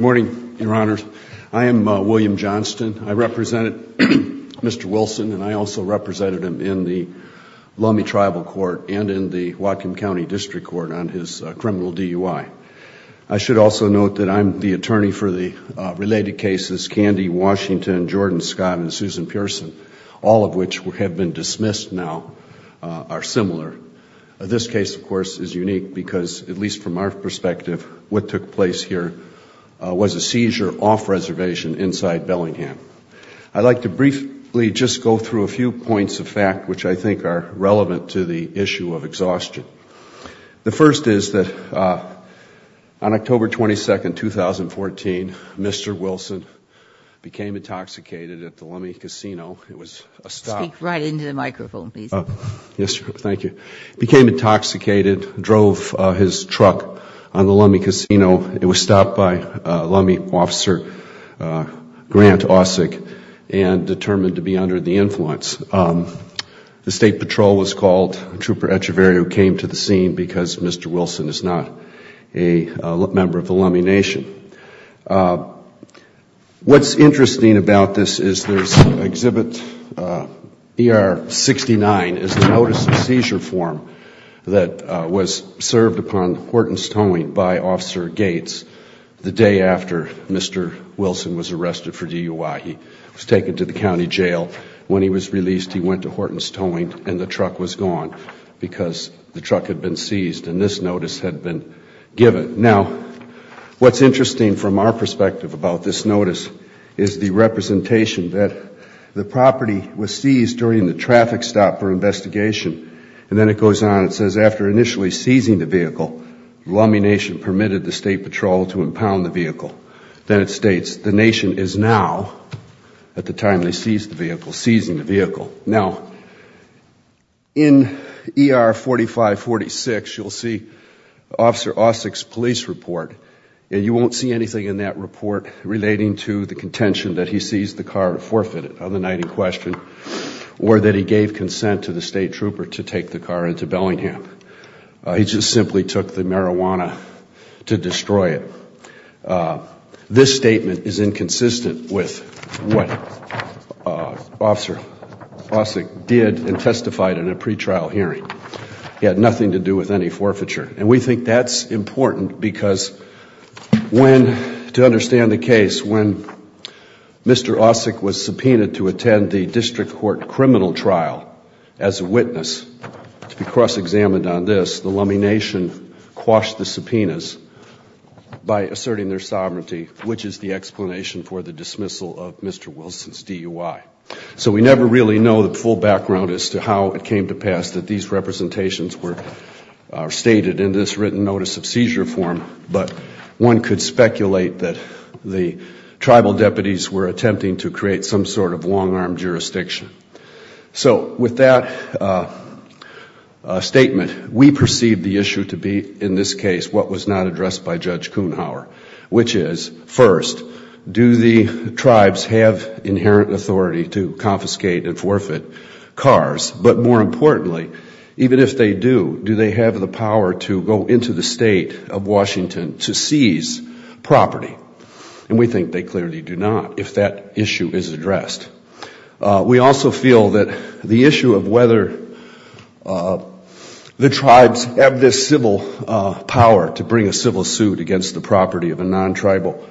Morning, Your Honors. I am William Johnston. I represented Mr. Wilson and I also represented him in the Lummi Tribal Court and in the Whatcom County District Court on his criminal DUI. I should also note that I'm the attorney for the related cases, Candy, Washington, Jordan, Scott, and Susan Pearson, all of which have been dismissed now, are similar. This case, of course, is unique because, at least from our perspective, what took place here was a seizure off-reservation inside Bellingham. I'd like to briefly just go through a few points of fact which I think are relevant to the issue of exhaustion. The first is that on October 22, 2014, Mr. Wilson became intoxicated at the Lummi Casino. It was a stop. He became intoxicated, drove his truck on the Lummi Casino. It was stopped by Lummi officer Grant Ausick and determined to be under the influence. The State Patrol was called. Trooper Echeverria came to the scene because Mr. Wilson is not a member of the ER-69 is a notice of seizure form that was served upon Horton's Towing by Officer Gates the day after Mr. Wilson was arrested for DUI. He was taken to the county jail. When he was released, he went to Horton's Towing and the truck was gone because the truck had been seized and this notice had been given. Now, what's interesting from our perspective about this notice is the representation that the property was seized during the traffic stop for investigation and then it goes on. It says, after initially seizing the vehicle, Lummi Nation permitted the State Patrol to impound the vehicle. Then it states, the Nation is now, at the time they seized the vehicle, seizing the vehicle. Now, in ER-4546, you'll see Officer Ausick's police report and you won't see anything in that report relating to the contention that he seized the car forfeited on the night in question or that he gave consent to the State Trooper to take the car into Bellingham. He just simply took the marijuana to destroy it. This statement is inconsistent with what Officer Ausick did and testified in a pretrial hearing. He had nothing to do with any forfeiture. And we think that's important because when, to understand the case, when Mr. Ausick was subpoenaed to attend the District Court criminal trial as a witness, to be cross-examined on this, the Lummi Nation quashed the subpoenas by asserting their sovereignty, which is the explanation for the dismissal of Mr. Wilson's DUI. So we never really know the full background as to how it came to pass that these representations were stated in this written notice of seizure form, but one could speculate that the tribal deputies were attempting to create some sort of long-arm jurisdiction. So with that statement, we perceive the issue to be, in this case, what was not tribes have inherent authority to confiscate and forfeit cars, but more importantly, even if they do, do they have the power to go into the State of Washington to seize property? And we think they clearly do not if that issue is addressed. We also feel that the issue of whether the tribes have this civil power to bring a civil suit against the property of a non-tribal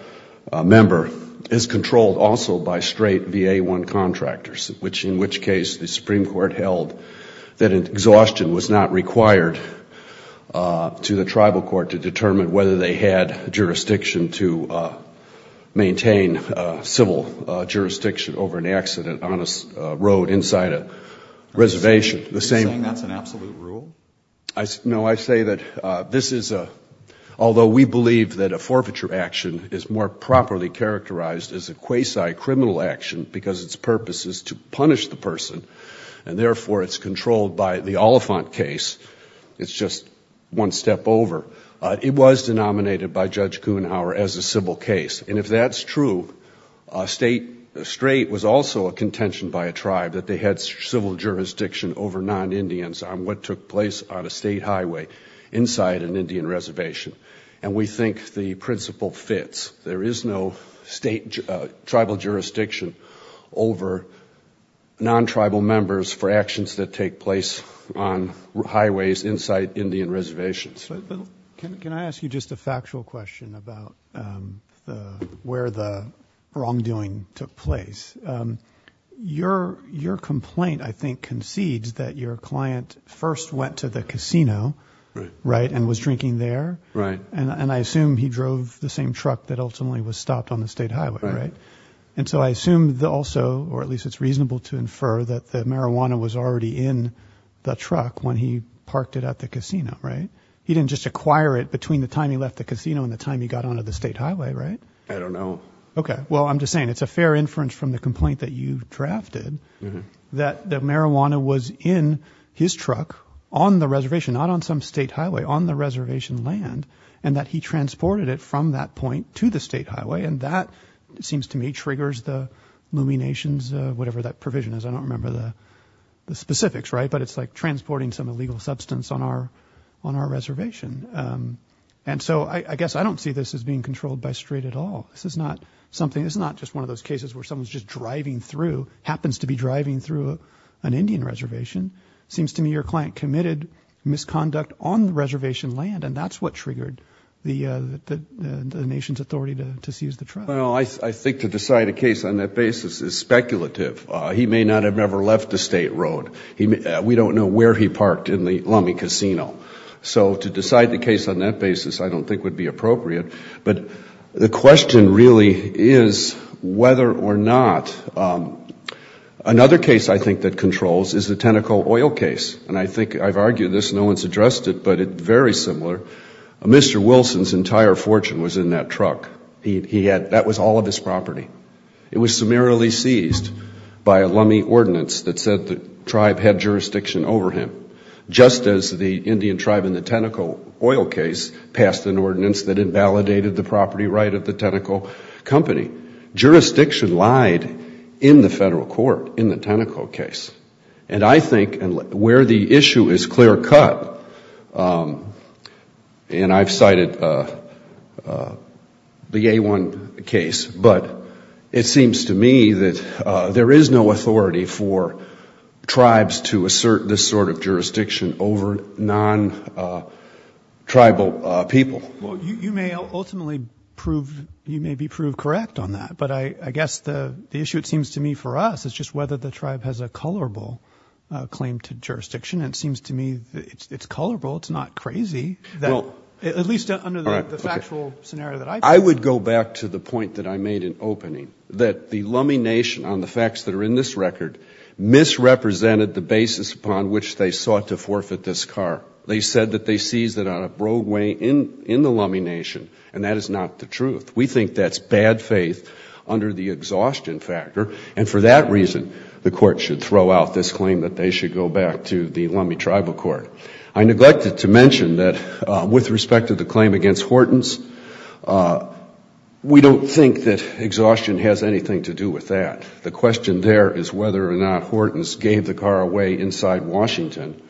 member is controlled also by straight VA-1 contractors, in which case the Supreme Court held that exhaustion was not required to the tribal court to determine whether they had jurisdiction to maintain civil jurisdiction over an accident on a road inside a reservation. Are you saying that's an absolute rule? No, I say that this is a, although we believe that a forfeiture action is more properly characterized as a quasi-criminal action because its purpose is to punish the person, and therefore it's controlled by the Oliphant case, it's just one step over. It was denominated by Judge Kuenhauer as a civil case, and if that's true, a straight was also a contention by highway inside an Indian reservation, and we think the principle fits. There is no state tribal jurisdiction over non-tribal members for actions that take place on highways inside Indian reservations. Can I ask you just a factual question about where the wrongdoing took place? Your complaint, I think, concedes that your client first went to the casino and was drinking there, and I assume he drove the same truck that ultimately was stopped on the state highway, right? And so I assume also, or at least it's reasonable to infer, that the marijuana was already in the truck when he parked it at the casino, right? He didn't just acquire it between the time he left the casino and the time he got onto the state highway, right? I don't know. Okay. Well, I'm just saying it's a fair inference from the complaint that you drafted that the marijuana was in his truck on the reservation, not on some state highway, on the reservation land, and that he transported it from that point to the state highway, and that, it seems to me, triggers the luminations, whatever that provision is. I don't remember the specifics, right? But it's like transporting some illegal substance on our reservation. And so I guess I don't see this as being controlled by STRAIT at all. This is not something, this is not just one of those cases where someone's just driving through, happens to be driving through an Indian reservation. It seems to me your client committed misconduct on the reservation land, and that's what triggered the nation's authority to seize the truck. Well, I think to decide a case on that basis is speculative. He may not have ever left the state road. We don't know where he parked in the Lummi Casino. So to decide the case on that basis I don't think would be appropriate. But the question really is whether or not another case I think that controls is the Teneco oil case. And I think I've argued this, no one's addressed it, but it's very similar. Mr. Wilson's entire fortune was in that truck. That was all of his property. It was summarily seized by a Lummi ordinance that said the Indian tribe in the Teneco oil case passed an ordinance that invalidated the property right of the Teneco company. Jurisdiction lied in the federal court in the Teneco case. And I think where the issue is clear cut, and I've cited the A1 case, but it seems to me that there is no authority for tribes to assert this sort of jurisdiction over non-tribal people. Well, you may ultimately prove, you may be proved correct on that. But I guess the issue it seems to me for us is just whether the tribe has a colorable claim to jurisdiction. And it seems to me it's colorable, it's not crazy. At least under the factual scenario that I've seen. I would go back to the point that I made in opening, that the Lummi Nation on the facts that are in this record misrepresented the basis upon which they sought to forfeit this car. They said that they seized it on a roadway in the Lummi Nation, and that is not the truth. We think that's bad faith under the exhaustion factor. And for that reason, the court should throw out this claim that they should go back to the Lummi Tribal Court. I neglected to mention that with respect to the claim against Hortons, we don't think that exhaustion has anything to do with that. The question there is whether or not Hortons gave the car away inside Washington,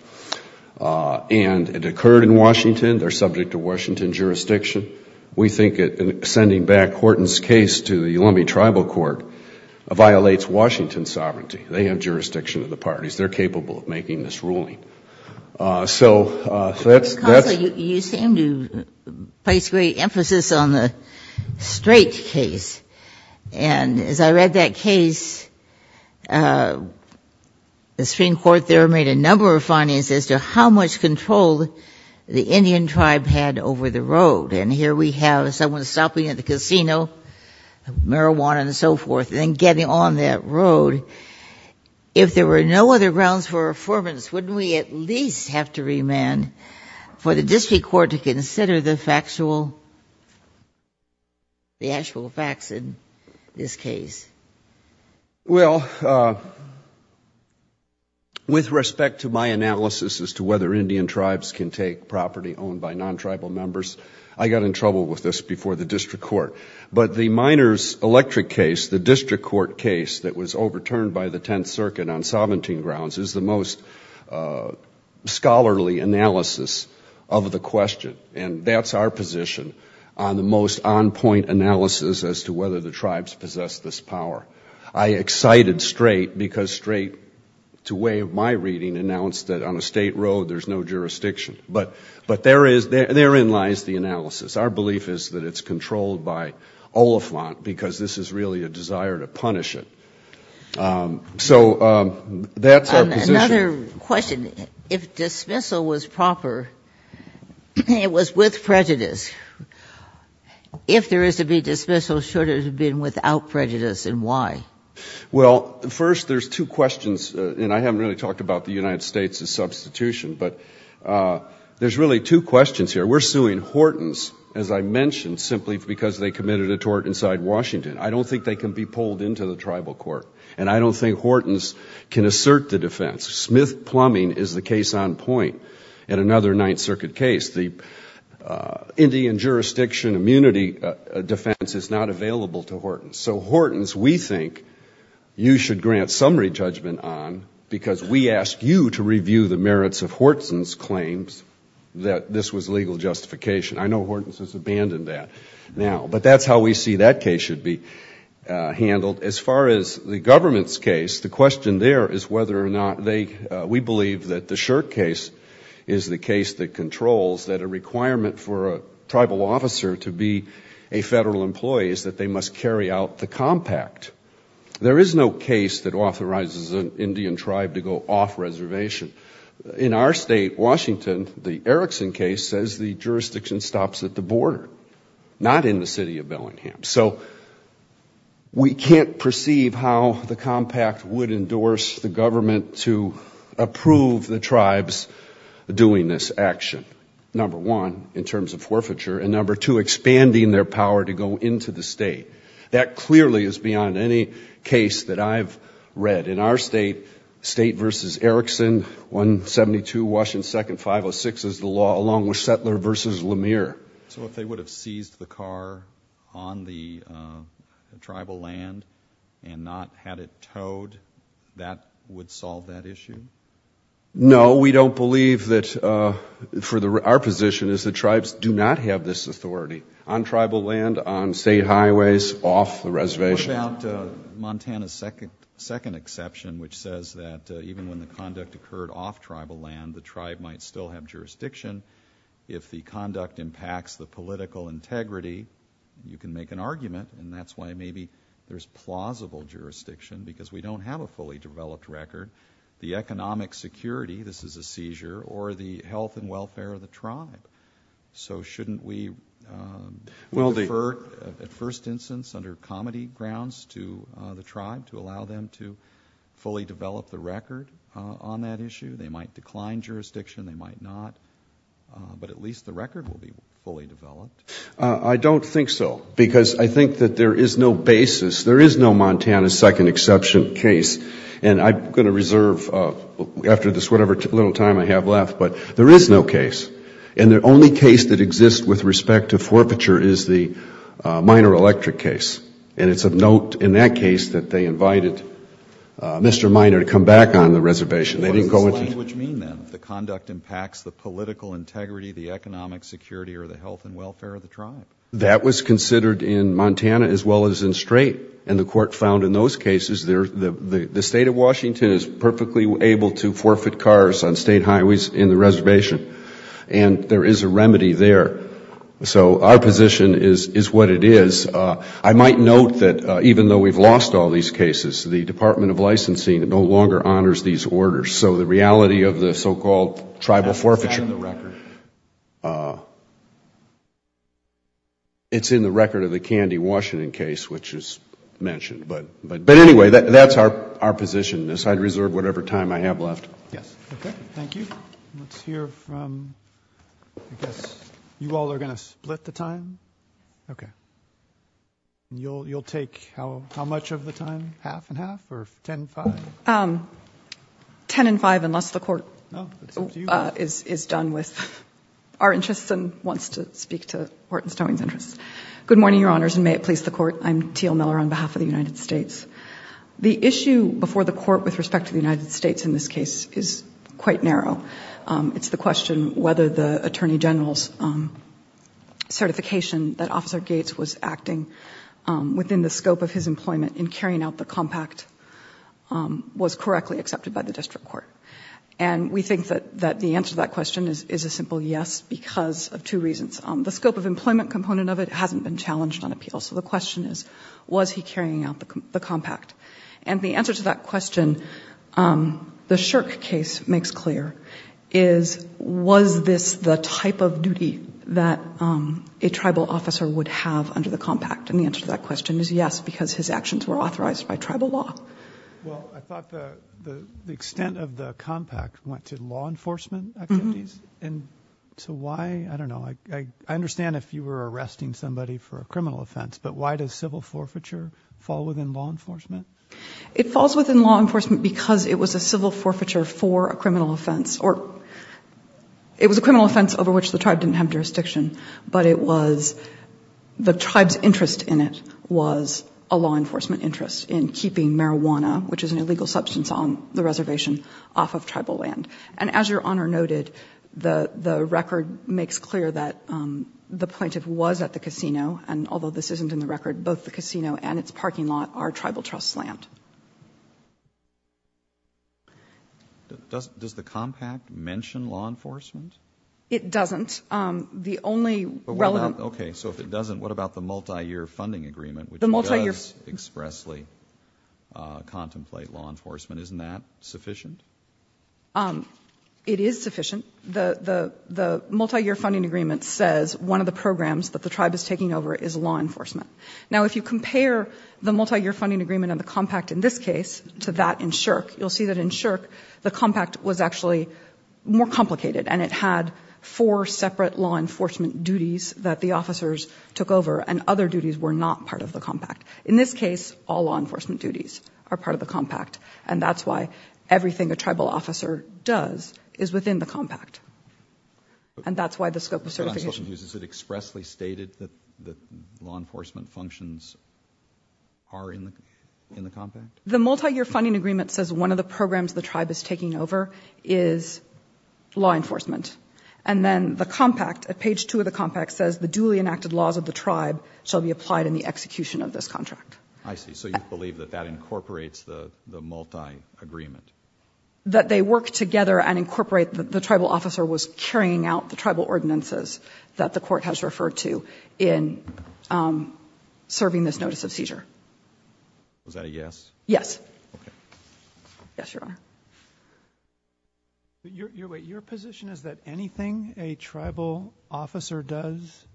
and it occurred in Washington, they're subject to Washington jurisdiction. We think that sending back Hortons' case to the Lummi Tribal Court violates Washington's sovereignty. They have jurisdiction of the parties, they're capable of making this ruling. So that's... Counsel, you seem to place great emphasis on the Strait case. And as I read that case, the Supreme Court there made a number of findings as to how much control the Indian tribe had over the road. And here we have someone stopping at the casino, marijuana and so forth, and getting on that road. If there were no other grounds for affirmance, wouldn't we at least have to remand for the district court to consider the factual, the actual facts in this case? Well, with respect to my analysis as to whether Indian tribes can take property owned by non-tribal members, I got in trouble with this before the district court. But the Miners Electric case, the district court case that was overturned by the Tenth Circuit on sovereignty grounds, is the most scholarly analysis of the question. And that's our position on the most on-point analysis as to whether the tribes possess this power. I excited Strait because Strait, to way of my reading, announced that on a state road there's no jurisdiction. But there in lies the analysis. Our belief is that it's controlled by Oliphant, because this is really a desire to punish it. So that's our position. Another question. If dismissal was proper, it was with prejudice. If there is to be dismissal, should it have been without prejudice, and why? Well, first, there's two questions. And I haven't really talked about the United States' substitution. But there's really two questions here. We're suing Hortons, as I mentioned, simply because they committed a tort inside Washington. I don't think they can be pulled into the tribal court. And I don't think Hortons can assert the defense. Smith Plumbing is the case on point in another Ninth Circuit case. The Indian jurisdiction immunity defense is not available to Hortons. So Hortons, we think you should grant summary judgment on, because we ask you to review the merits of Hortons' claims that this was legal justification. I know Hortons has abandoned that now. But that's how we see that case should be handled. As far as the government's case, the question there is whether or not they, we believe that the Shirk case is the case that controls that a requirement for a tribal officer to be a federal employee is that they must carry out the compact. There is no case that authorizes an Indian tribe to go off reservation. In our state, Washington, the Erickson case says the jurisdiction stops at the border, not in the city of Bellingham. So we can't perceive how the compact would endorse the government to approve the tribes doing this action, number one, in terms of forfeiture, and number two, expanding their power to go into the state. That clearly is beyond any case that I've read. In our state, state versus Erickson, 172 Washington Second, 506 is the law, along with Settler versus Lemire. So if they would have seized the car on the tribal land and not had it towed, that would solve that issue? No, we don't believe that, for our position is that tribes do not have this authority. On tribal land, on state highways, off the reservation? What about Montana's second exception, which says that even when the conduct occurred off tribal land, the tribe might still have jurisdiction. If the conduct impacts the political integrity, you can make an argument, and that's why maybe there's plausible jurisdiction, because we don't have a fully developed record. The economic security, this is a seizure, or the health and welfare of the tribe. So shouldn't we defer, at first instance, under comedy grounds to the tribe to allow them to fully develop the record on that issue? They might decline jurisdiction, they might not, but at least the record will be fully developed. I don't think so, because I think that there is no basis, there is no Montana's second exception case, and I'm going to reserve, after this whatever little time I have left, but there is no case, and the only case that exists with respect to forfeiture is the Miner Electric case, and it's of note in that case that they invited Mr. Miner to come back on the reservation. What does this language mean, then? The conduct impacts the political integrity, the economic security, or the health and welfare of the tribe? That was considered in Montana, as well as in Strait, and the court found in those cases the State of Washington is perfectly able to forfeit cars on State highways in the reservation, and there is a remedy there. So our position is what it is. I might note that even though we've lost all these cases, the Department of Licensing no longer honors these orders. So the reality of the so-called tribal forfeiture, it's in the record of the Candy Washington case, which is mentioned. But anyway, that's our position. I'd reserve whatever time I have left. Yes. Okay. Thank you. Let's hear from, I guess, you all are going to split the time? Okay. You'll take how much of the time, half and half, or ten and five? Ten and five, unless the court is done with our interests and wants to speak to Horton Court. I'm Teal Miller on behalf of the United States. The issue before the court with respect to the United States in this case is quite narrow. It's the question whether the Attorney General's certification that Officer Gates was acting within the scope of his employment in carrying out the compact was correctly accepted by the district court. And we think that the answer to that question is a simple yes because of two reasons. The scope of employment component of it hasn't been challenged on appeal, so the question is, was he carrying out the compact? And the answer to that question, the Shirk case makes clear, is, was this the type of duty that a tribal officer would have under the compact? And the answer to that question is yes, because his actions were authorized by tribal law. Well, I thought the extent of the compact went to law enforcement activities? And so why, I don't know, I understand if you were arresting somebody for a criminal offense, but why does civil forfeiture fall within law enforcement? It falls within law enforcement because it was a civil forfeiture for a criminal offense or it was a criminal offense over which the tribe didn't have jurisdiction, but it was the tribe's interest in it was a law enforcement interest in keeping marijuana, which is an interest in keeping marijuana. And so the report makes clear that the plaintiff was at the casino, and although this isn't in the record, both the casino and its parking lot are tribal trust land. Does the compact mention law enforcement? It doesn't. The only relevant Okay, so if it doesn't, what about the multiyear funding agreement, which does expressly contemplate law enforcement? Isn't that sufficient? It is sufficient. The multiyear funding agreement says one of the programs that the tribe is taking over is law enforcement. Now, if you compare the multiyear funding agreement and the compact in this case to that in Shirk, you'll see that in Shirk the compact was actually more complicated and it had four separate law enforcement duties that the officers took over and other duties were not part of the compact. In this case, all law enforcement a tribal officer does is within the compact. And that's why the scope of certification But I'm still confused. Is it expressly stated that law enforcement functions are in the compact? The multiyear funding agreement says one of the programs the tribe is taking over is law enforcement. And then the compact, at page two of the compact, says the duly enacted laws of the tribe shall be applied in the execution of this contract. I see. So you believe that that incorporates the multiagreement? That they work together and incorporate the tribal officer was carrying out the tribal ordinances that the court has referred to in serving this notice of seizure. Was that a yes? Yes. Okay. Yes, Your Honor. Your position is that anything a tribal officer does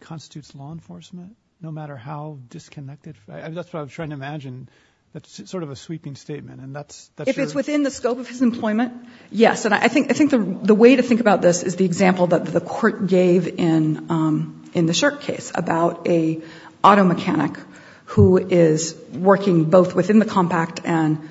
constitutes law enforcement, no matter how disconnected? That's what I'm trying to imagine. That's sort of a sweeping statement. And that's If it's within the scope of his employment, yes. And I think the way to think about this is the example that the court gave in the Shirk case about an auto mechanic who is working both within the compact and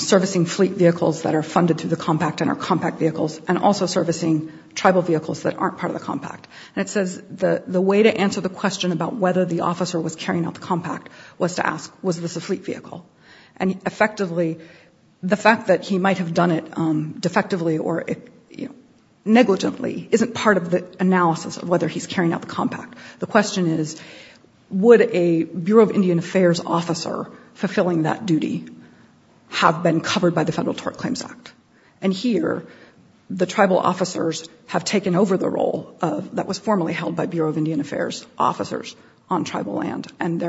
servicing fleet vehicles that are funded through the compact and are compact vehicles and also servicing tribal vehicles that aren't part of the compact. And it says the way to answer the question about whether the officer was carrying out the compact was to ask, was this a fleet vehicle? And effectively, the fact that he might have done it defectively or negligently isn't part of the analysis of whether he's carrying out the compact. The question is, would a Bureau of Indian Affairs officer fulfilling that duty have been covered by the Federal Tort Claims Act? And here, the tribal officers have taken over the role that was formerly held by Bureau of Indian Affairs officers on tribal land. And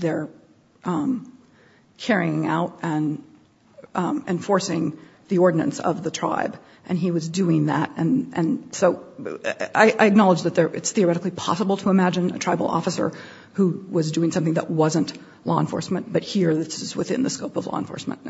they're carrying out and enforcing the ordinance of the tribe. And he was doing that. And so I acknowledge that it's theoretically possible to imagine a tribal officer who was doing something that wasn't law enforcement. But here, this is within the scope of law enforcement.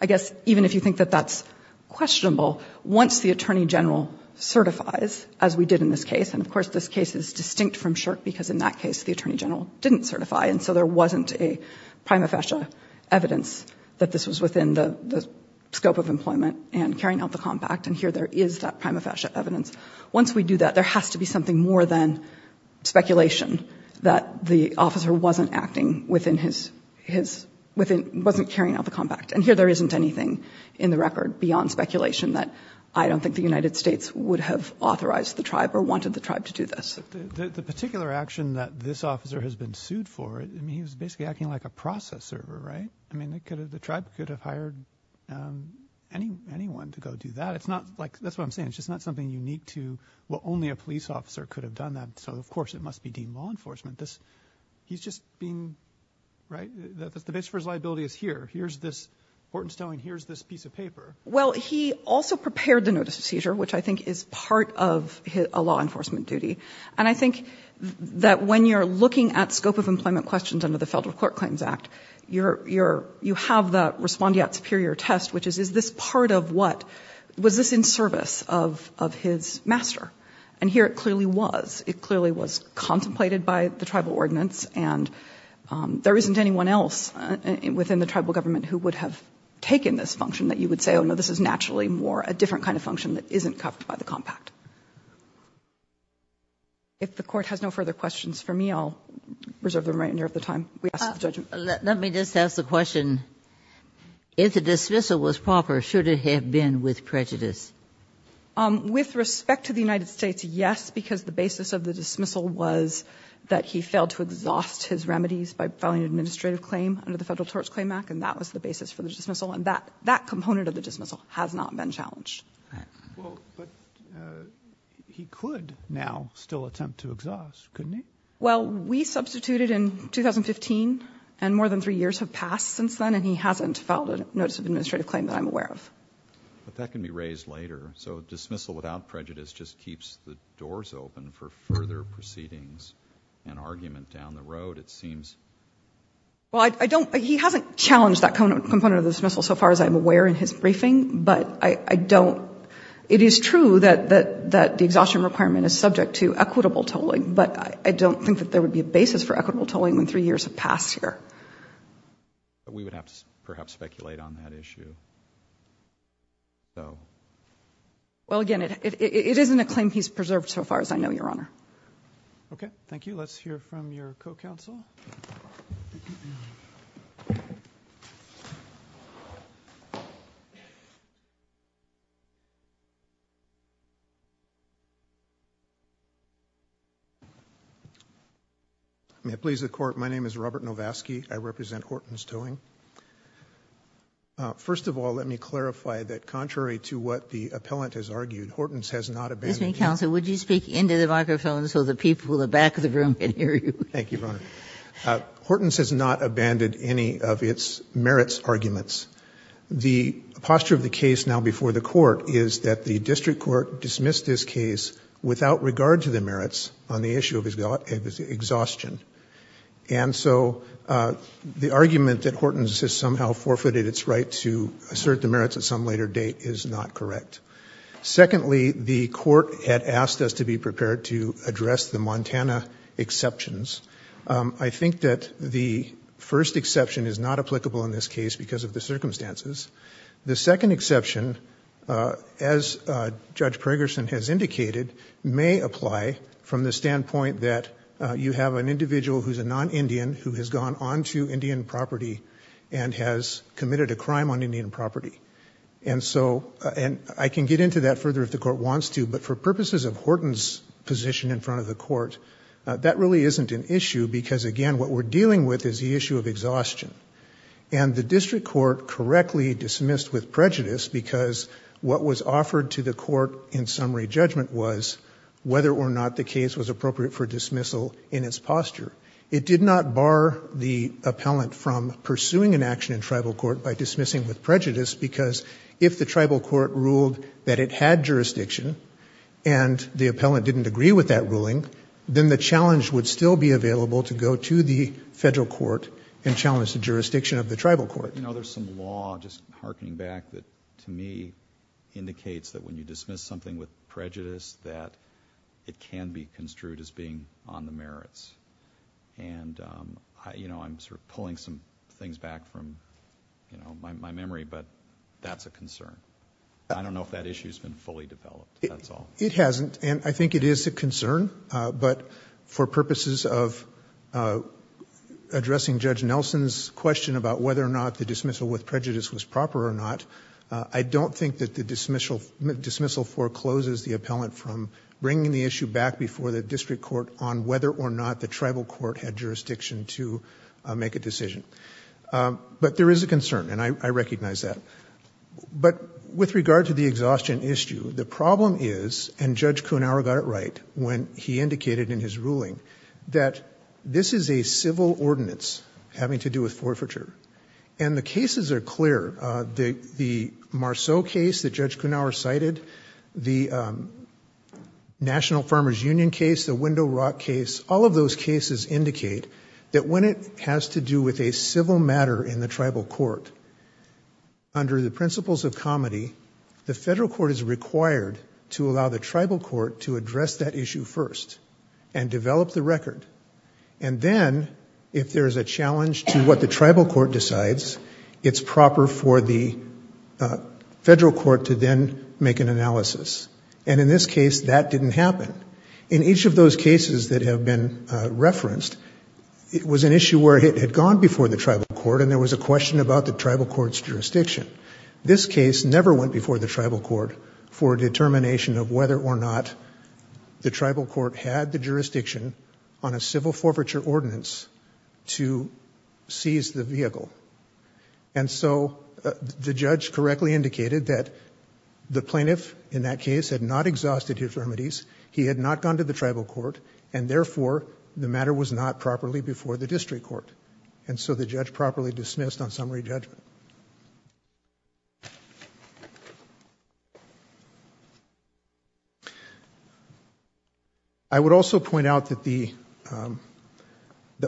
I guess, even if you think that that's questionable, once the Attorney General certifies, as we did in this case, and of course, this case is distinct from SSHRC because in that case, the Attorney General didn't certify. And so there wasn't a prima facie evidence that this was within the scope of employment and carrying out the compact. And here, there is that prima facie evidence. Once we do that, there has to be something more than speculation that the officer wasn't acting within his, wasn't carrying out the compact. And here, there isn't anything in the record beyond speculation that I don't think the United States would have authorized the tribe or wanted the tribe to do this. The particular action that this officer has been sued for, I mean, he was basically acting like a process server, right? I mean, the tribe could have hired anyone to go do that. It's not like, that's what I'm saying. It's just not something unique to, well, only a police officer could have done that. So of course, it must be deemed law enforcement. He's just being, right? The base for his liability is here. Here's this, Horton's telling, here's this piece of paper. Well, he also prepared the notice of seizure, which I think is part of a law enforcement duty. And I think that when you're looking at scope of employment questions under the Federal Court Claims Act, you have that respondeat superior test, which is, is this part of what, was this in service of his master? And here, it clearly was. It clearly was tribal ordinance. And there isn't anyone else within the tribal government who would have taken this function that you would say, oh, no, this is naturally more a different kind of function that isn't covered by the compact. If the court has no further questions for me, I'll reserve them right near the time we ask the judgment. Let me just ask the question. If the dismissal was proper, should it have been with prejudice? With respect to the United States, yes, because the basis of the dismissal was that he failed to exhaust his remedies by filing an administrative claim under the Federal Torts Claim Act, and that was the basis for the dismissal. And that, that component of the dismissal has not been challenged. Well, but he could now still attempt to exhaust, couldn't he? Well, we substituted in 2015, and more than three years have passed since then, and he hasn't filed a notice of administrative claim that I'm aware of. But that can be raised later. So dismissal without prejudice just keeps the doors open for further proceedings and argument down the road, it seems. Well, I don't, he hasn't challenged that component of the dismissal so far as I'm aware in his briefing, but I don't, it is true that the exhaustion requirement is subject to equitable tolling, but I don't think that there would be a basis for equitable tolling when three years have passed here. We would have to perhaps speculate on that issue. Well, again, it, it, it isn't a claim he's preserved so far as I know, Your Honor. Okay. Thank you. Let's hear from your co-counsel. May it please the Court, my name is Robert Novasky. I represent Horton's Towing. First of all, let me clarify that contrary to what the appellant has argued, Horton's has not abandoned Excuse me, counsel, would you speak into the microphone so the people in the back of the room can hear you? Thank you, Your Honor. Horton's has not abandoned any of its merits arguments. The posture of the case now before the Court is that the district court dismissed this case without regard to the merits on the issue of exhaustion. And so the argument that Horton's has somehow forfeited its right to assert the merits at some later date is not correct. Secondly, the Court had asked us to be prepared to address the Montana exceptions. I think that the first exception is not applicable in this case because of the circumstances. The second exception, as Judge Pergerson has indicated, may apply from the standpoint that you have an individual who is a non-Indian who has gone on to Indian property and has committed a crime on Indian property. And so, I can get into that further if the Court wants to, but for purposes of Horton's position in front of the Court, that really isn't an issue because, again, what we're dealing with is the issue of exhaustion. And the district court correctly dismissed with prejudice because what was offered to the Court in summary judgment was whether or not the case was appropriate for dismissal in its posture. It did not bar the appellant from pursuing an action in tribal court by dismissing with prejudice because if the tribal court ruled that it had jurisdiction and the appellant didn't agree with that ruling, then the challenge would still be available to go to the Federal court and challenge the jurisdiction of the tribal court. But there's some law, just harkening back, that to me indicates that when you dismiss something with prejudice, that it can be construed as being on the merits. And I'm pulling some things back from my memory, but that's a concern. I don't know if that issue has been fully developed, that's all. It hasn't, and I think it is a concern, but for purposes of addressing Judge Nelson's question about whether or not the dismissal with prejudice was proper or not, I don't think that the dismissal forecloses the appellant from bringing the issue back before the district court on whether or not the tribal court had jurisdiction to make a decision. But there is a concern, and I recognize that. But with regard to the exhaustion issue, the problem is, and Judge Kuhnhauer got it right when he indicated in his ruling, that this is a civil ordinance having to do with forfeiture. And the cases are clear. The Marceau case that Judge Kuhnhauer cited, the National Farmers Union case, the Window Rock case, all of those cases indicate that when it has to do with a civil matter in the tribal court, under the principles of comity, the Federal court is required to allow the issue first and develop the record. And then, if there is a challenge to what the tribal court decides, it's proper for the Federal court to then make an analysis. And in this case, that didn't happen. In each of those cases that have been referenced, it was an issue where it had gone before the tribal court and there was a question about the tribal court's jurisdiction. This case never went before the tribal court for determination of whether or not the tribal court had the jurisdiction on a civil forfeiture ordinance to seize the vehicle. And so, the judge correctly indicated that the plaintiff in that case had not exhausted his remedies, he had not gone to the tribal court, and therefore, the matter was not properly before the district court. And so, the judge properly dismissed on summary judgment. I would also point out that the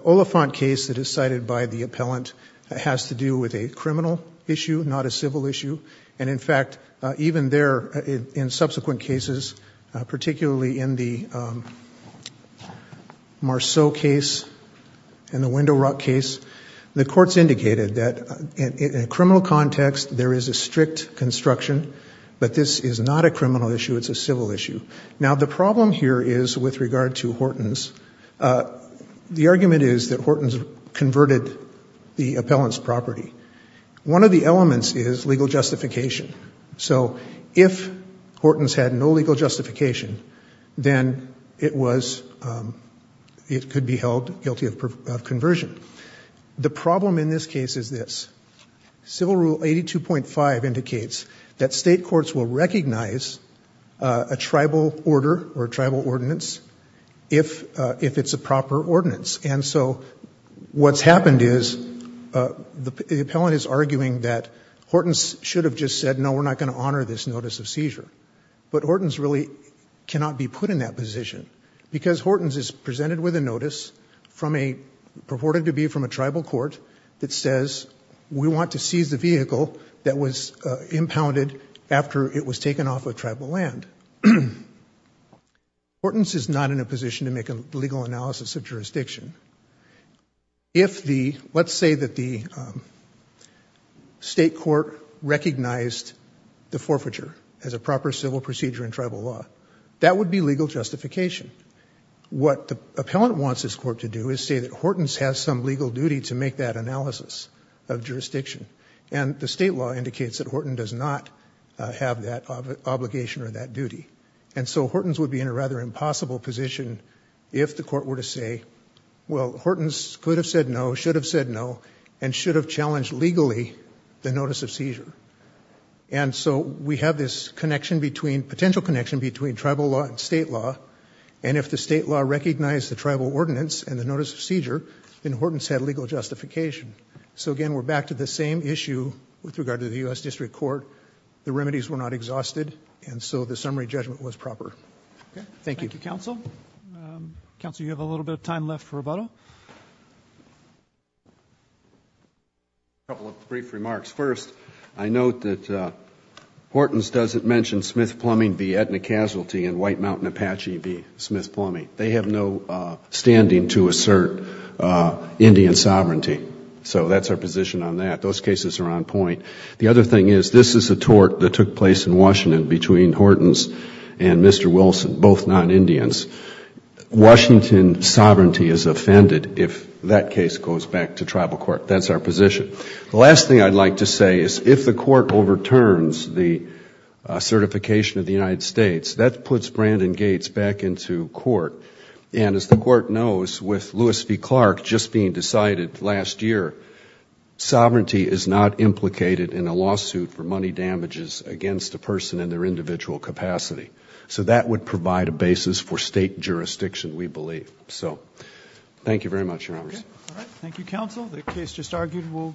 Oliphant case that is cited by the appellant has to do with a criminal issue, not a civil issue. And in fact, even there, in subsequent cases, particularly in the Marceau case and the Window Rock case, the courts indicated that in a criminal context, there is a strict construction, but this is not a criminal issue, it's a civil issue. Now the problem here is with regard to Horton's, the argument is that Horton's converted the appellant's property. One of the elements is legal justification. So if Horton's had no legal justification, then it was, it could be held guilty of conversion. The problem in this case is this. Civil Rule 82.5 indicates that state courts will recognize a tribal order or tribal ordinance if it's a proper ordinance. And so, what's happened is, the appellant is arguing that Horton's should have just said, no, we're not going to honor this notice of seizure. But Horton's really cannot be put in that position, because Horton's is presented with a notice from a, purported to be from a tribal court, that says, we want to seize the vehicle that was impounded after it was taken off of tribal land. And Horton's is not in a position to make a legal analysis of jurisdiction. If the, let's say that the state court recognized the forfeiture as a proper civil procedure in tribal law, that would be legal justification. What the appellant wants this court to do is say that Horton's has some legal duty to make that analysis of jurisdiction. And the state law indicates that Horton's does not have that obligation or that duty. And so, Horton's would be in a rather impossible position if the court were to say, well, Horton's could have said no, should have said no, and should have challenged legally the notice of seizure. And so, we have this connection between, potential connection between tribal law and state law. And if the state law recognized the tribal ordinance and the notice of seizure, then Horton's had legal justification. So again, we're back to the same issue with regard to the U.S. District Court. The remedies were not exhausted, and so the summary judgment was proper. Thank you. Thank you, counsel. Counsel, you have a little bit of time left for rebuttal. A couple of brief remarks. First, I note that Horton's doesn't mention Smith Plumbing v. Aetna Casualty and White Mountain Apache v. Smith Plumbing. They have no standing to assert Indian sovereignty. So that's our position on that. Those cases are on point. The other thing is, this is a tort that took place in Washington between Horton's and Mr. Wilson, both non-Indians. Washington sovereignty is offended if that case goes back to tribal court. That's our position. The last thing I'd like to say is, if the court overturns the certification of the United And as the court knows, with Lewis v. Clark just being decided last year, sovereignty is not implicated in a lawsuit for money damages against a person in their individual capacity. So that would provide a basis for state jurisdiction, we believe. So thank you very much, Your Honors. Okay. All right. Thank you, counsel.